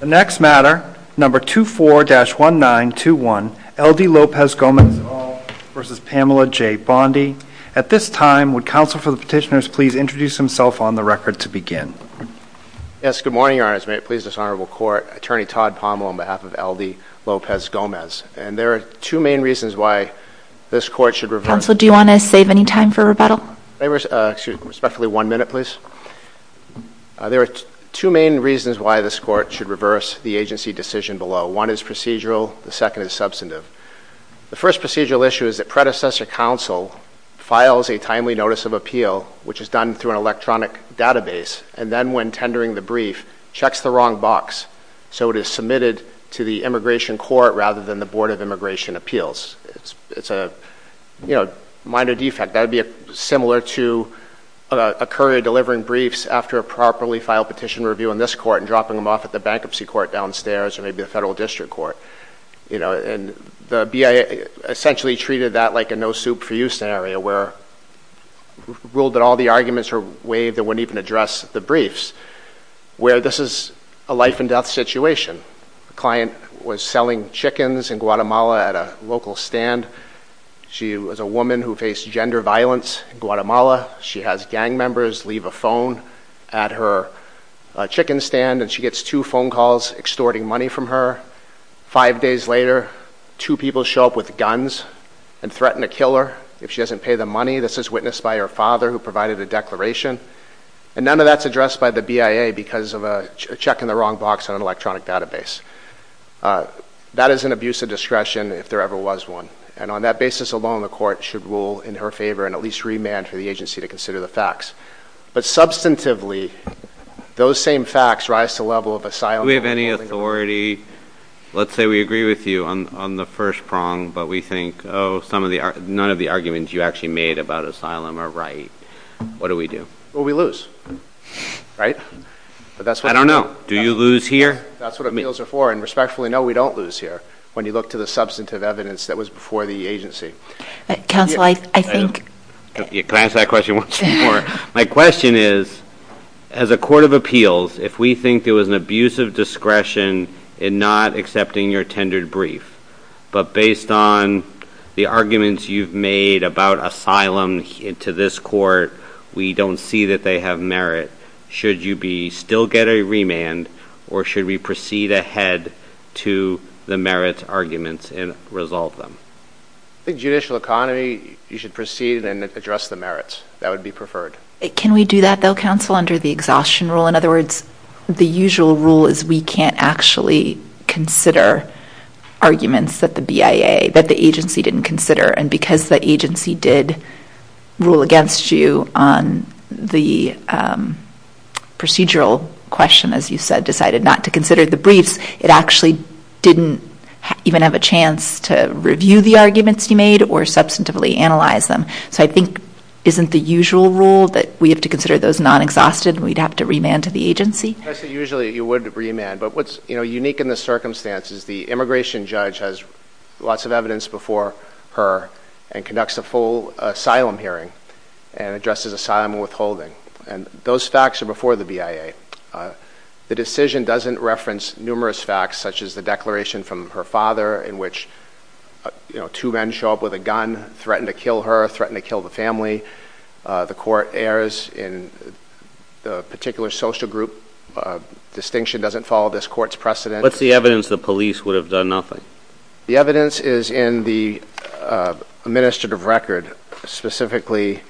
The next matter, number 24-1921, L.D. Lopez-Gomez v. Pamela J. Bondi. At this time, would counsel for the petitioners please introduce himself on the record to begin. Yes, good morning, Your Honor. It is my pleasure to serve on this honorable court, Attorney Todd Pommel on behalf of L.D. Lopez-Gomez. And there are two main reasons why this court should revert. Counsel, do you want to save any time for rebuttal? Excuse me, respectfully, one minute, please. There are two main reasons why this court should reverse the agency decision below. One is procedural. The second is substantive. The first procedural issue is that predecessor counsel files a timely notice of appeal, which is done through an electronic database, and then when tendering the brief, checks the wrong box, so it is submitted to the immigration court rather than the Board of Immigration Appeals. It's a, you know, minor defect. That would be similar to a courier delivering briefs after a properly filed petition review in this court and dropping them off at the bankruptcy court downstairs or maybe the federal district court, you know, and the BIA essentially treated that like a no-soup-for-you scenario where ruled that all the arguments were waived and wouldn't even address the briefs, where this is a life-and-death situation. A client was selling chickens in Guatemala at a local stand. She was a woman who faced gender violence in Guatemala. She has gang members leave a phone at her chicken stand, and she gets two phone calls extorting money from her. Five days later, two people show up with guns and threaten to kill her if she doesn't pay the money. This is witnessed by her father, who provided a declaration, and none of that's addressed by the BIA because of a check in the wrong box on an electronic database. That is an abuse of discretion if there ever was one, and on that basis alone, the court should rule in her favor and at least remand for the agency to consider the facts. But substantively, those same facts rise to the level of asylum- Do we have any authority? Let's say we agree with you on the first prong, but we think, oh, none of the arguments you actually made about asylum are right. What do we do? Well, we lose. Right? I don't know. Do you lose here? That's what appeals are for, and respectfully, no, we don't lose here when you look to the substantive evidence that was before the agency. Counsel, I think- Can I answer that question once more? My question is, as a court of appeals, if we think there was an abuse of discretion in not accepting your tendered brief, but based on the arguments you've made about asylum to this court, we don't see that they have merit, should you still get a remand, or should we proceed ahead to the merit arguments and resolve them? I think judicial economy, you should proceed and address the merits. That would be preferred. Can we do that, though, counsel, under the exhaustion rule? In other words, the usual rule is we can't actually consider arguments that the BIA, that the agency didn't consider, and because the agency did rule against you on the procedural question, as you said, decided not to consider the briefs, it actually didn't even have a chance to review the arguments you made or substantively analyze them. So I think, isn't the usual rule that we have to consider those non-exhausted and we'd have to remand to the agency? I say usually you would remand, but what's unique in this circumstance is the immigration judge has lots of evidence before her and conducts a full asylum hearing and addresses asylum and withholding. And those facts are before the BIA. The decision doesn't reference numerous facts, such as the declaration from her father in which two men show up with a gun, threaten to kill her, threaten to kill the family. The court errs in the particular social group distinction doesn't follow this court's precedent. What's the evidence the police would have done nothing? The evidence is in the administrative record, specifically,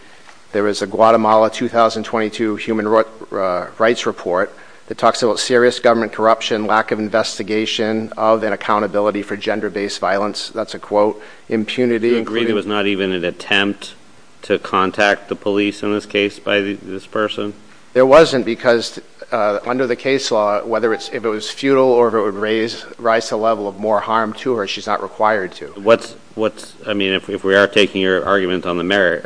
there was a Guatemala 2022 human rights report that talks about serious government corruption, lack of investigation of and accountability for gender-based violence. That's a quote. Do you agree there was not even an attempt to contact the police in this case by this person? There wasn't because under the case law, whether it's if it was futile or if it would rise a level of more harm to her, she's not required to what's, what's, I mean, if, if we are taking your argument on the merit,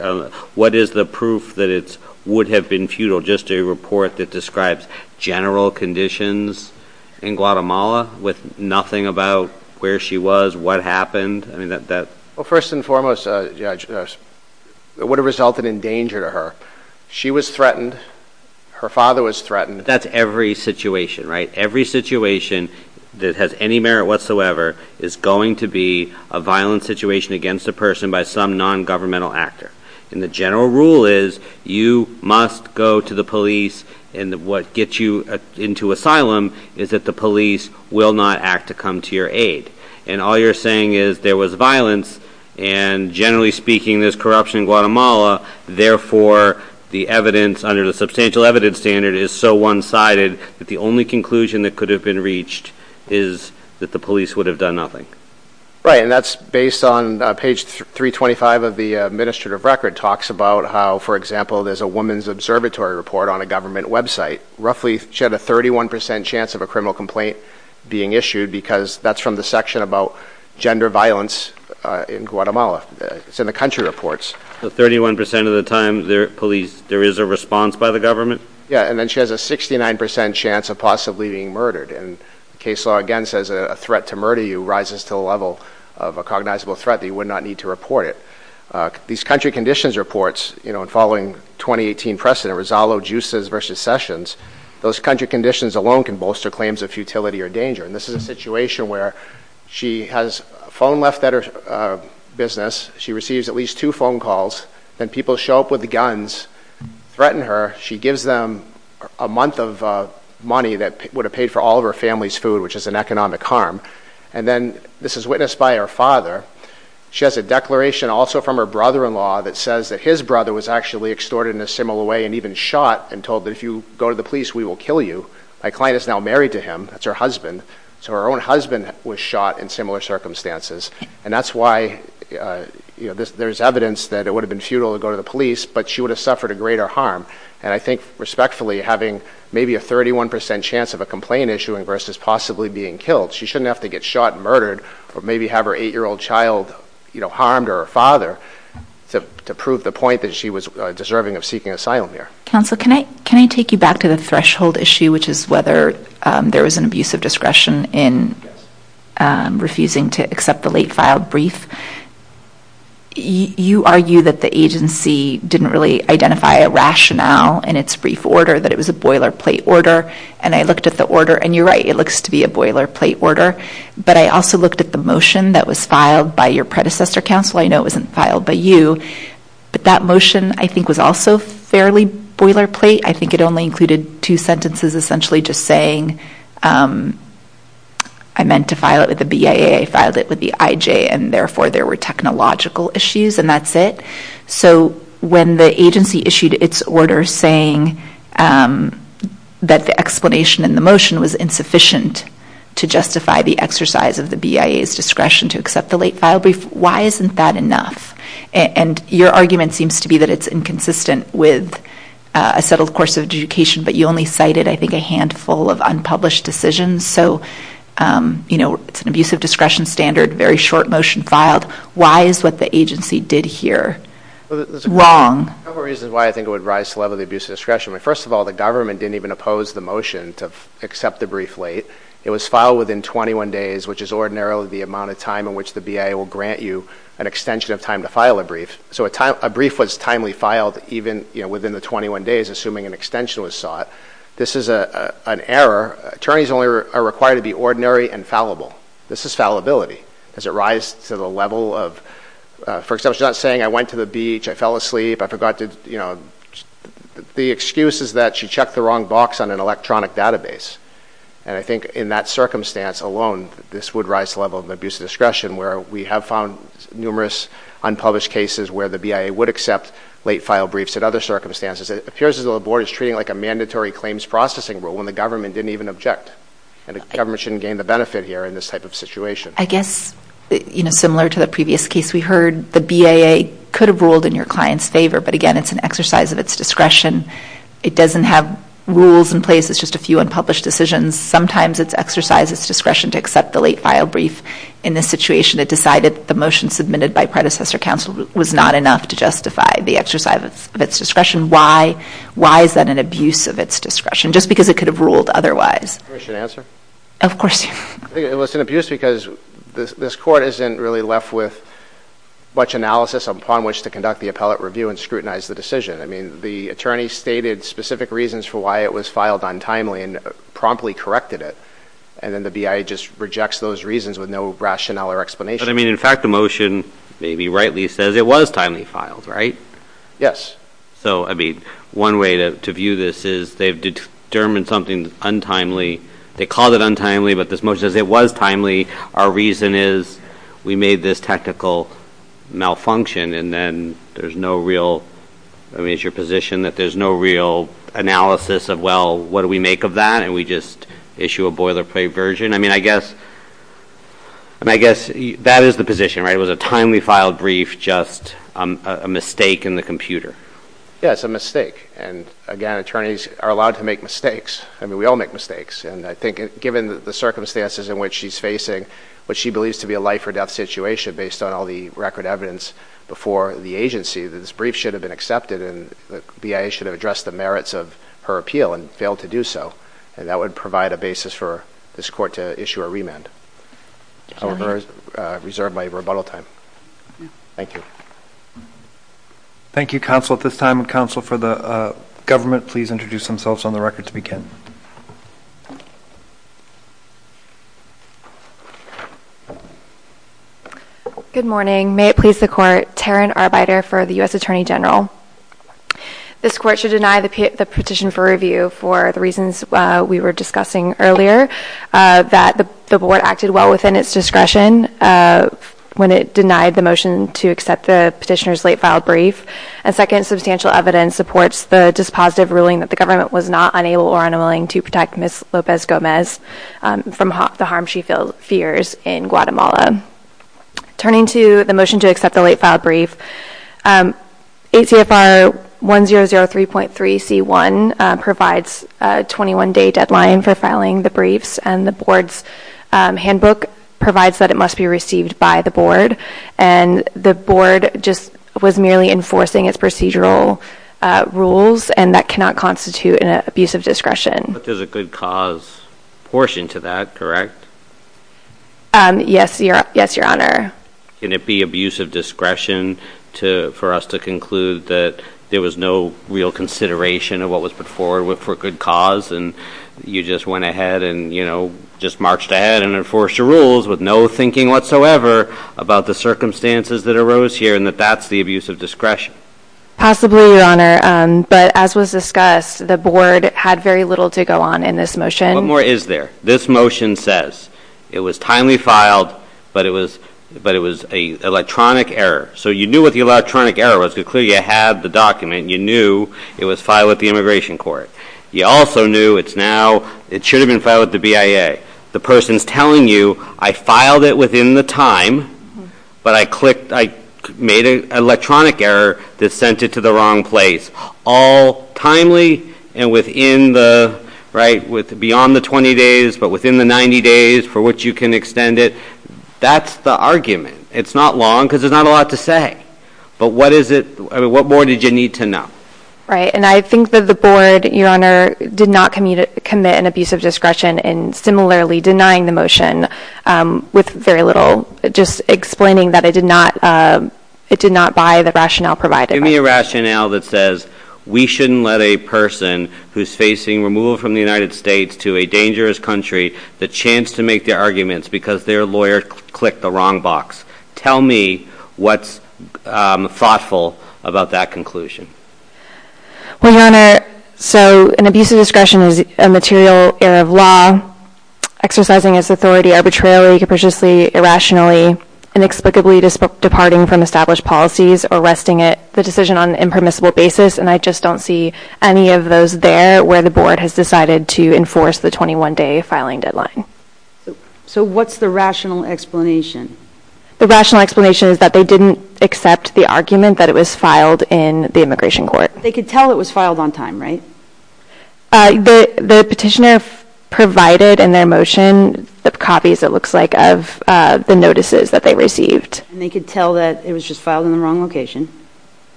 what is the proof that it's would have been futile, just a report that describes general conditions in Guatemala with nothing about where she was, what happened? I mean, that, that, well, first and foremost, uh, yeah, it would have resulted in danger to her. She was threatened. Her father was threatened. That's every situation, right? Every situation that has any merit whatsoever is going to be a violent situation against a person by some non-governmental actor. And the general rule is you must go to the police and what gets you into asylum is that the police will not act to come to your aid. And all you're saying is there was violence and generally speaking, there's corruption in Guatemala. Therefore the evidence under the substantial evidence standard is so one sided that the only conclusion that could have been reached is that the police would have done nothing. And that's based on page 325 of the administrative record talks about how, for example, there's a woman's observatory report on a government website. Roughly she had a 31% chance of a criminal complaint being issued because that's from the section about gender violence in Guatemala. It's in the country reports. So 31% of the time there police, there is a response by the government. Yeah. And then she has a 69% chance of possibly being murdered and the case law again says a threat to murder you rises to a level of a cognizable threat that you would not need to report it. These country conditions reports, you know, and following 2018 precedent, Rosallo, Juices versus Sessions, those country conditions alone can bolster claims of futility or danger. And this is a situation where she has a phone left at her business. She receives at least two phone calls. Then people show up with guns, threaten her. She gives them a month of money that would have paid for all of her family's food, which is an economic harm. And then this is witnessed by her father. She has a declaration also from her brother-in-law that says that his brother was actually extorted in a similar way and even shot and told that if you go to the police, we will kill you. My client is now married to him. That's her husband. So her own husband was shot in similar circumstances. And that's why, you know, there's evidence that it would have been futile to go to the And I think respectfully, having maybe a 31% chance of a complaint issuing versus possibly being killed, she shouldn't have to get shot and murdered or maybe have her eight-year-old child, you know, harmed or her father to prove the point that she was deserving of seeking asylum here. Counsel, can I take you back to the threshold issue, which is whether there was an abuse of discretion in refusing to accept the late filed brief? You argue that the agency didn't really identify a rationale in its brief order, that it was a boilerplate order. And I looked at the order, and you're right, it looks to be a boilerplate order. But I also looked at the motion that was filed by your predecessor, counsel. I know it wasn't filed by you, but that motion, I think, was also fairly boilerplate. I think it only included two sentences essentially just saying, I meant to file it with the BIA. I filed it with the IJ, and therefore there were technological issues, and that's it. So when the agency issued its order saying that the explanation in the motion was insufficient to justify the exercise of the BIA's discretion to accept the late filed brief, why isn't that enough? And your argument seems to be that it's inconsistent with a settled course of education, but you only cited, I think, a handful of unpublished decisions. So, you know, it's an abusive discretion standard, very short motion filed. Why is what the agency did here wrong? There's a couple reasons why I think it would rise to the level of abusive discretion. First of all, the government didn't even oppose the motion to accept the brief late. It was filed within 21 days, which is ordinarily the amount of time in which the BIA will grant you an extension of time to file a brief. So a brief was timely filed even within the 21 days, assuming an extension was sought. This is an error. Attorneys only are required to be ordinary and fallible. This is fallibility. Does it rise to the level of, for example, she's not saying I went to the beach, I fell asleep, I forgot to, you know, the excuse is that she checked the wrong box on an electronic database. And I think in that circumstance alone, this would rise to the level of abusive discretion where we have found numerous unpublished cases where the BIA would accept late filed briefs in other circumstances. It appears as though the board is treating it like a mandatory claims processing rule when the government didn't even object and the government shouldn't gain the benefit here in this type of situation. I guess, you know, similar to the previous case we heard, the BIA could have ruled in your client's favor, but again, it's an exercise of its discretion. It doesn't have rules in place, it's just a few unpublished decisions. Sometimes it's exercised its discretion to accept the late file brief. In this situation, it decided the motion submitted by predecessor counsel was not enough to justify the exercise of its discretion. Why? Why is that an abuse of its discretion? Just because it could have ruled otherwise. Of course. I think it was an abuse because this court isn't really left with much analysis upon which to conduct the appellate review and scrutinize the decision. I mean, the attorney stated specific reasons for why it was filed untimely and promptly corrected it, and then the BIA just rejects those reasons with no rationale or explanation. But I mean, in fact, the motion maybe rightly says it was timely filed, right? Yes. So, I mean, one way to view this is they've determined something untimely. They called it untimely, but this motion says it was timely. Our reason is we made this technical malfunction, and then there's no real, I mean, it's your position that there's no real analysis of, well, what do we make of that, and we just issue a boilerplate version? I mean, I guess that is the position, right? So it was a timely filed brief, just a mistake in the computer. Yes, a mistake, and again, attorneys are allowed to make mistakes. I mean, we all make mistakes, and I think given the circumstances in which she's facing what she believes to be a life or death situation based on all the record evidence before the agency that this brief should have been accepted and the BIA should have addressed the merits of her appeal and failed to do so, and that would provide a basis for this court to issue a remand. I will reserve my rebuttal time. Thank you. Thank you, counsel, at this time, and counsel for the government, please introduce themselves on the record to begin. Good morning, may it please the court, Taryn Arbeiter for the U.S. Attorney General. This court should deny the petition for review for the reasons we were discussing earlier, that the board acted well within its discretion when it denied the motion to accept the petitioner's late filed brief, and second, substantial evidence supports the dispositive ruling that the government was not unable or unwilling to protect Ms. Lopez-Gomez from the harm she feels in Guatemala. Turning to the motion to accept the late filed brief, ACFR 1003.3c1 provides a 21-day deadline for filing the briefs, and the board's handbook provides that it must be received by the board, and the board just was merely enforcing its procedural rules, and that cannot constitute an abuse of discretion. But there's a good cause portion to that, correct? Yes, your honor. Can it be abuse of discretion for us to conclude that there was no real consideration of what was put forward for a good cause, and you just went ahead and, you know, just marched ahead and enforced your rules with no thinking whatsoever about the circumstances that arose here and that that's the abuse of discretion? Possibly, your honor, but as was discussed, the board had very little to go on in this motion. What more is there? This motion says it was timely filed, but it was an electronic error. So you knew what the electronic error was because clearly you had the document, you knew it was filed with the Immigration Court. You also knew it's now, it should have been filed with the BIA. The person's telling you, I filed it within the time, but I clicked, I made an electronic error that sent it to the wrong place. All timely and within the, right, beyond the 20 days, but within the 90 days for which you can extend it, that's the argument. It's not long because there's not a lot to say. But what is it, what more did you need to know? Right, and I think that the board, your honor, did not commit an abuse of discretion in similarly denying the motion with very little, just explaining that it did not, it did not buy the rationale provided. Give me a rationale that says we shouldn't let a person who's facing removal from the United States to a dangerous country, the chance to make their arguments because their lawyer clicked the wrong box. Tell me what's thoughtful about that conclusion. Well, your honor, so an abuse of discretion is a material error of law, exercising its authority arbitrarily, capriciously, irrationally, inexplicably departing from established policies or arresting it, the decision on an impermissible basis. And I just don't see any of those there where the board has decided to enforce the 21 day filing deadline. So what's the rational explanation? The rational explanation is that they didn't accept the argument that it was filed in the immigration court. They could tell it was filed on time, right? The petitioner provided in their motion the copies, it looks like, of the notices that they received. And they could tell that it was just filed in the wrong location?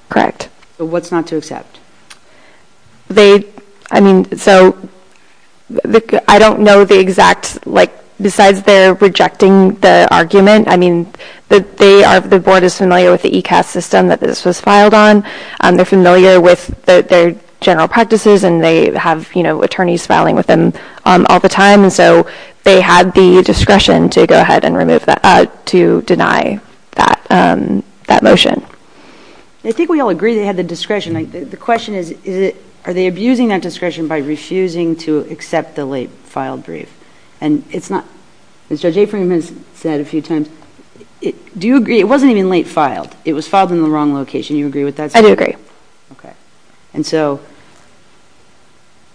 Correct. So what's not to accept? They, I mean, so, I don't know the exact, like, besides their rejecting the argument, I mean, they are, the board is familiar with the ECAS system that this was filed on, they're familiar with their general practices and they have, you know, attorneys filing with them all the time and so they had the discretion to go ahead and remove that, to deny that motion. I think we all agree they had the discretion. The question is, are they abusing that discretion by refusing to accept the late filed brief? And it's not, Judge Aprem has said a few times, do you agree, it wasn't even late filed, it was filed in the wrong location, do you agree with that? I do agree. Okay. And so,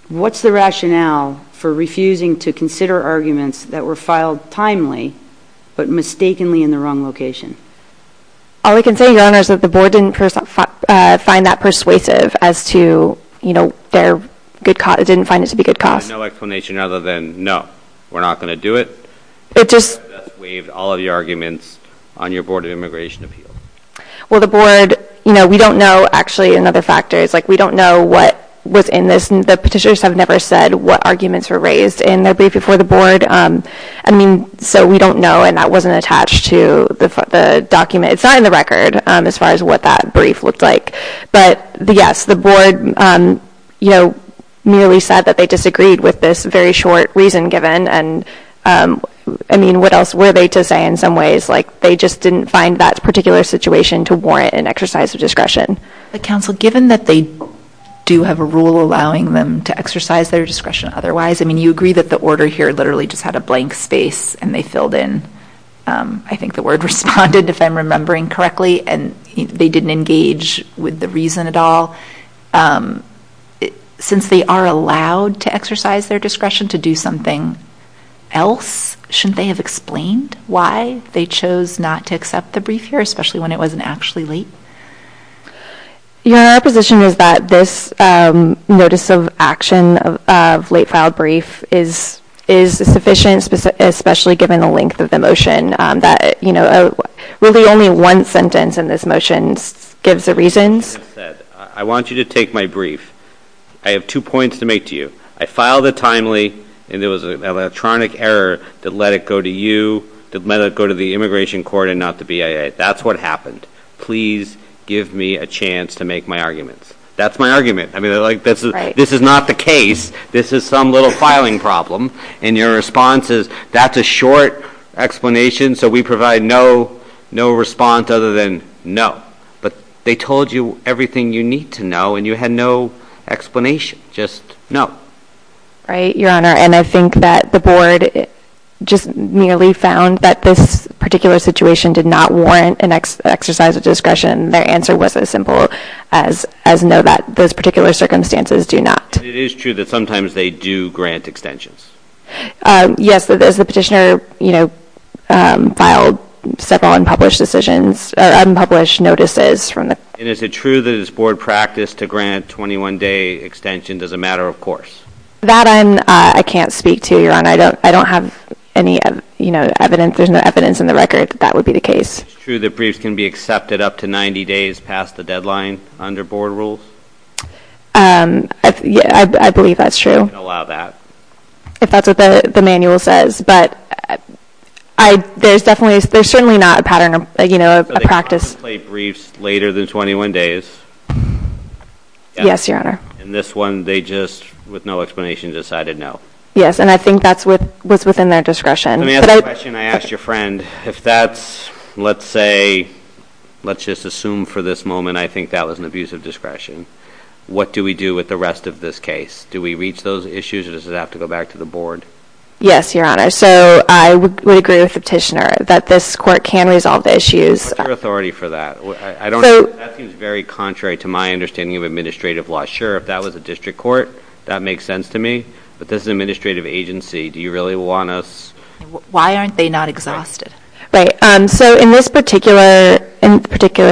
what's the rationale for refusing to consider arguments that were filed timely but mistakenly in the wrong location? All I can say, Your Honor, is that the board didn't find that persuasive as to, you know, their good, it didn't find it to be good cause. No explanation other than, no, we're not going to do it? It just. That's waived all of the arguments on your Board of Immigration Appeals. Well, the board, you know, we don't know, actually, another factor is, like, we don't know what was in this, the petitioners have never said what arguments were raised in their I mean, so we don't know, and that wasn't attached to the document, it's not in the record as far as what that brief looked like, but, yes, the board, you know, merely said that they disagreed with this very short reason given, and, I mean, what else were they to say in some ways, like, they just didn't find that particular situation to warrant an exercise of discretion. But, counsel, given that they do have a rule allowing them to exercise their discretion otherwise, I mean, you agree that the order here literally just had a blank space, and they filled in, I think the word responded, if I'm remembering correctly, and they didn't engage with the reason at all. Since they are allowed to exercise their discretion to do something else, shouldn't they have explained why they chose not to accept the brief here, especially when it wasn't actually late? Your Honor, our position is that this notice of action of late filed brief is sufficient, especially given the length of the motion, that, you know, really only one sentence in this motion gives the reasons. I want you to take my brief. I have two points to make to you. I filed it timely, and there was an electronic error that let it go to you, that let it go to the Immigration Court and not the BIA. That's what happened. Please give me a chance to make my arguments. That's my argument. I mean, this is not the case. This is some little filing problem, and your response is, that's a short explanation, so we provide no response other than no. But they told you everything you need to know, and you had no explanation. Just no. Right, Your Honor, and I think that the Board just merely found that this particular situation did not warrant an exercise of discretion. Their answer was as simple as no, that those particular circumstances do not. It is true that sometimes they do grant extensions? Yes, that as the petitioner, you know, filed several unpublished decisions, or unpublished notices from the court. And is it true that it's Board practice to grant 21-day extension? Does it matter? Of course. That I can't speak to, Your Honor. I don't have any, you know, evidence, there's no evidence in the record that that would be the case. It's true that briefs can be accepted up to 90 days past the deadline under Board rules? I believe that's true. You can't allow that. If that's what the manual says, but I, there's definitely, there's certainly not a pattern, you know, a practice. So they don't want to play briefs later than 21 days? Yes, Your Honor. And this one, they just, with no explanation, decided no. Yes, and I think that's what was within their discretion. Let me ask a question I asked your friend. If that's, let's say, let's just assume for this moment I think that was an abuse of discretion, what do we do with the rest of this case? Do we reach those issues or does it have to go back to the Board? Yes, Your Honor. So I would agree with the petitioner that this court can resolve the issues. What's your authority for that? I don't, that seems very contrary to my understanding of administrative law. I'm not sure if that was a district court. That makes sense to me. But this is an administrative agency. Do you really want us? Why aren't they not exhausted? Right. So in this particular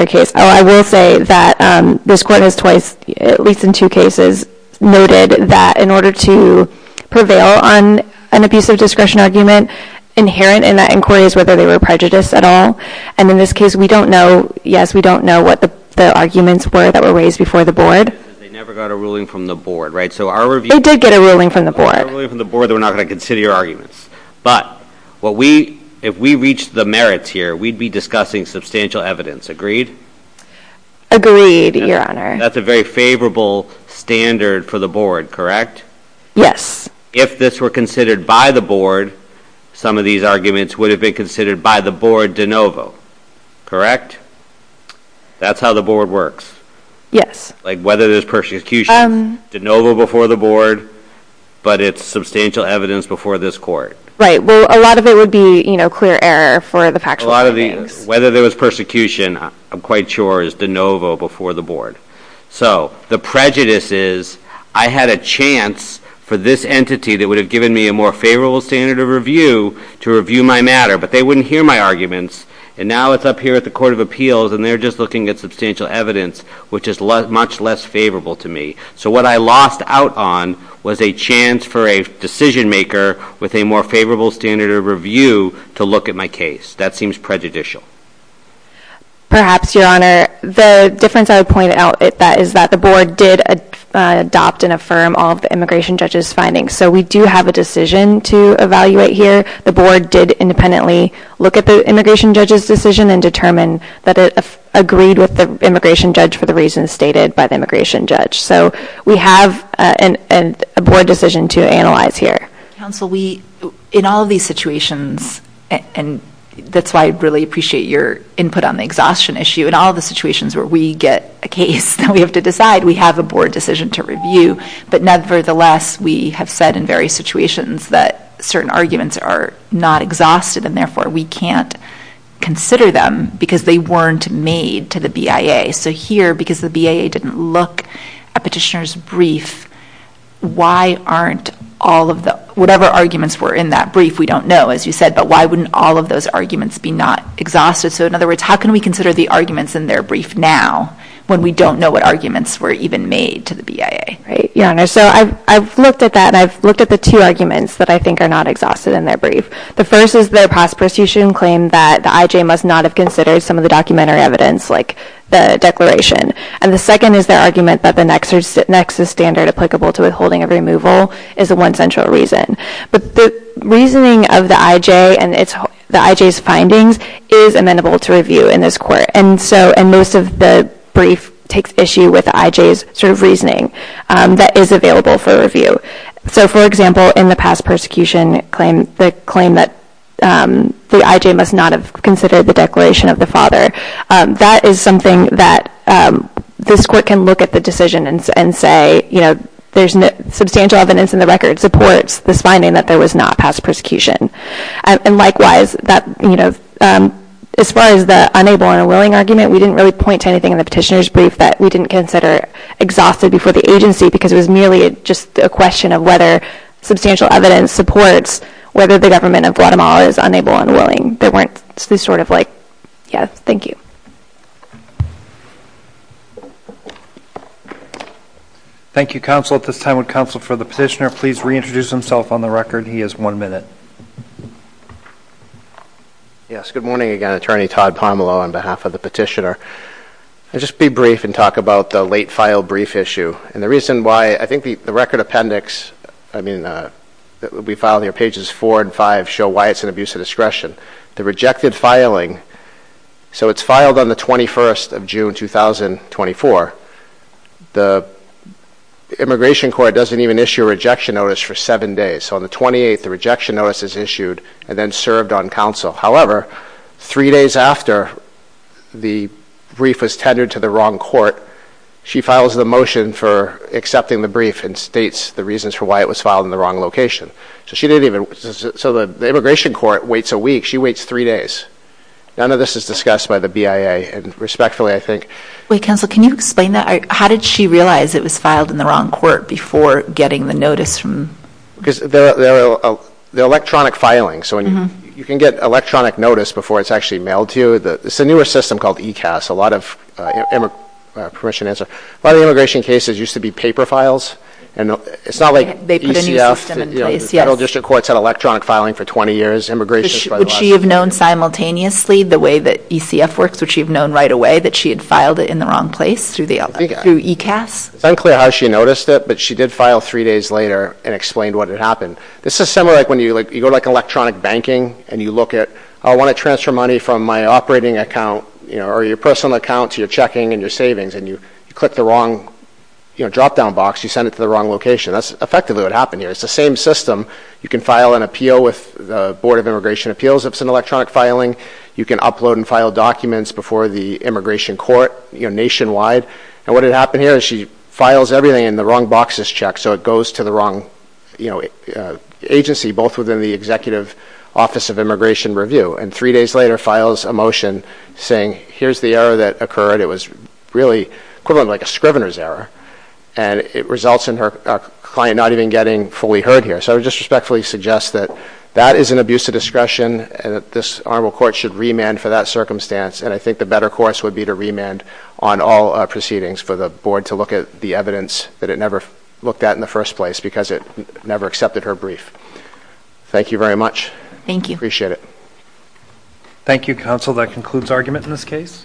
case, I will say that this court has twice, at least in two cases, noted that in order to prevail on an abuse of discretion argument, inherent in that inquiry is whether they were prejudiced at all. And in this case, we don't know, yes, we don't know what the arguments were that were raised before the Board. They never got a ruling from the Board, right? So our review... They did get a ruling from the Board. If they got a ruling from the Board, they were not going to consider your arguments. But if we reached the merits here, we'd be discussing substantial evidence. Agreed? Agreed, Your Honor. That's a very favorable standard for the Board, correct? Yes. If this were considered by the Board, some of these arguments would have been considered by the Board de novo, correct? That's how the Board works. Yes. Like, whether there's persecution de novo before the Board, but it's substantial evidence before this Court. Right. Well, a lot of it would be clear error for the factual findings. Whether there was persecution, I'm quite sure, is de novo before the Board. So the prejudice is, I had a chance for this entity that would have given me a more favorable standard of review to review my matter, but they wouldn't hear my arguments. And now it's up here at the Court of Appeals, and they're just looking at substantial evidence, which is much less favorable to me. So what I lost out on was a chance for a decision-maker with a more favorable standard of review to look at my case. That seems prejudicial. Perhaps, Your Honor. The difference I would point out is that the Board did adopt and affirm all of the immigration judge's findings. So we do have a decision to evaluate here. The Board did independently look at the immigration judge's decision and determine that it agreed with the immigration judge for the reasons stated by the immigration judge. So we have a Board decision to analyze here. Counsel, we, in all of these situations, and that's why I really appreciate your input on the exhaustion issue. In all of the situations where we get a case that we have to decide, we have a Board decision to review. But nevertheless, we have said in various situations that certain arguments are not exhausted, and therefore, we can't consider them because they weren't made to the BIA. So here, because the BIA didn't look at Petitioner's brief, why aren't all of the, whatever arguments were in that brief, we don't know, as you said, but why wouldn't all of those arguments be not exhausted? So in other words, how can we consider the arguments in their brief now when we don't know what arguments were even made to the BIA? Right. Your Honor, so I've looked at that, and I've looked at the two arguments that I think are not exhausted in their brief. The first is their past persecution claim that the IJ must not have considered some of the documentary evidence, like the Declaration. And the second is their argument that the Nexus Standard applicable to withholding of removal is the one central reason. But the reasoning of the IJ and the IJ's findings is amenable to review in this Court. And so, and most of the brief takes issue with the IJ's sort of reasoning that is available for review. So for example, in the past persecution claim, the claim that the IJ must not have considered the Declaration of the Father, that is something that this Court can look at the decision and say, you know, there's substantial evidence in the record supports this finding that there was not past persecution. And likewise, that, you know, as far as the unable and unwilling argument, we didn't really point to anything in the petitioner's brief that we didn't consider exhausted before the agency, because it was merely just a question of whether substantial evidence supports whether the government of Guatemala is unable and unwilling. There weren't sort of like, yeah, thank you. Thank you, counsel. At this time, would counsel for the petitioner please reintroduce himself on the record? He has one minute. Yes, good morning again, Attorney Todd Pomelo on behalf of the petitioner. Just be brief and talk about the late file brief issue. And the reason why, I think the record appendix, I mean, that will be filed here, pages four and five show why it's an abuse of discretion. The rejected filing, so it's filed on the 21st of June, 2024. The Immigration Court doesn't even issue a rejection notice for seven days. So on the 28th, the rejection notice is issued and then served on counsel. However, three days after the brief was tenured to the wrong court, she files the motion for accepting the brief and states the reasons for why it was filed in the wrong location. So she didn't even, so the Immigration Court waits a week. She waits three days. None of this is discussed by the BIA and respectfully, I think. Wait, counsel, can you explain that? How did she realize it was filed in the wrong court before getting the notice from? Because the electronic filing, so you can get electronic notice before it's actually mailed to you. It's a newer system called ECAS, a lot of, permission to answer, a lot of immigration cases used to be paper files. And it's not like ECF. They put a new system in place, yes. You know, the Federal District Court's had electronic filing for 20 years, immigration for the last... Would she have known simultaneously the way that ECF works, would she have known right away that she had filed it in the wrong place through the, through ECAS? It's unclear how she noticed it, but she did file three days later and explained what had This is similar like when you go to like electronic banking and you look at, I want to transfer money from my operating account, you know, or your personal account to your checking and your savings, and you click the wrong, you know, drop-down box, you send it to the wrong location. That's effectively what happened here. It's the same system. You can file an appeal with the Board of Immigration Appeals if it's an electronic filing. You can upload and file documents before the immigration court, you know, nationwide. And what had happened here is she files everything in the wrong boxes check, so it goes to the wrong, you know, agency, both within the Executive Office of Immigration Review, and three days later files a motion saying, here's the error that occurred. It was really equivalent to like a scrivener's error, and it results in her client not even getting fully heard here. So I would just respectfully suggest that that is an abuse of discretion and that this Honorable Court should remand for that circumstance, and I think the better course would be to remand on all proceedings for the Board to look at the evidence that it never looked at in the first place because it never accepted her brief. Thank you very much. Thank you. Appreciate it. Thank you, Counsel. That concludes argument in this case.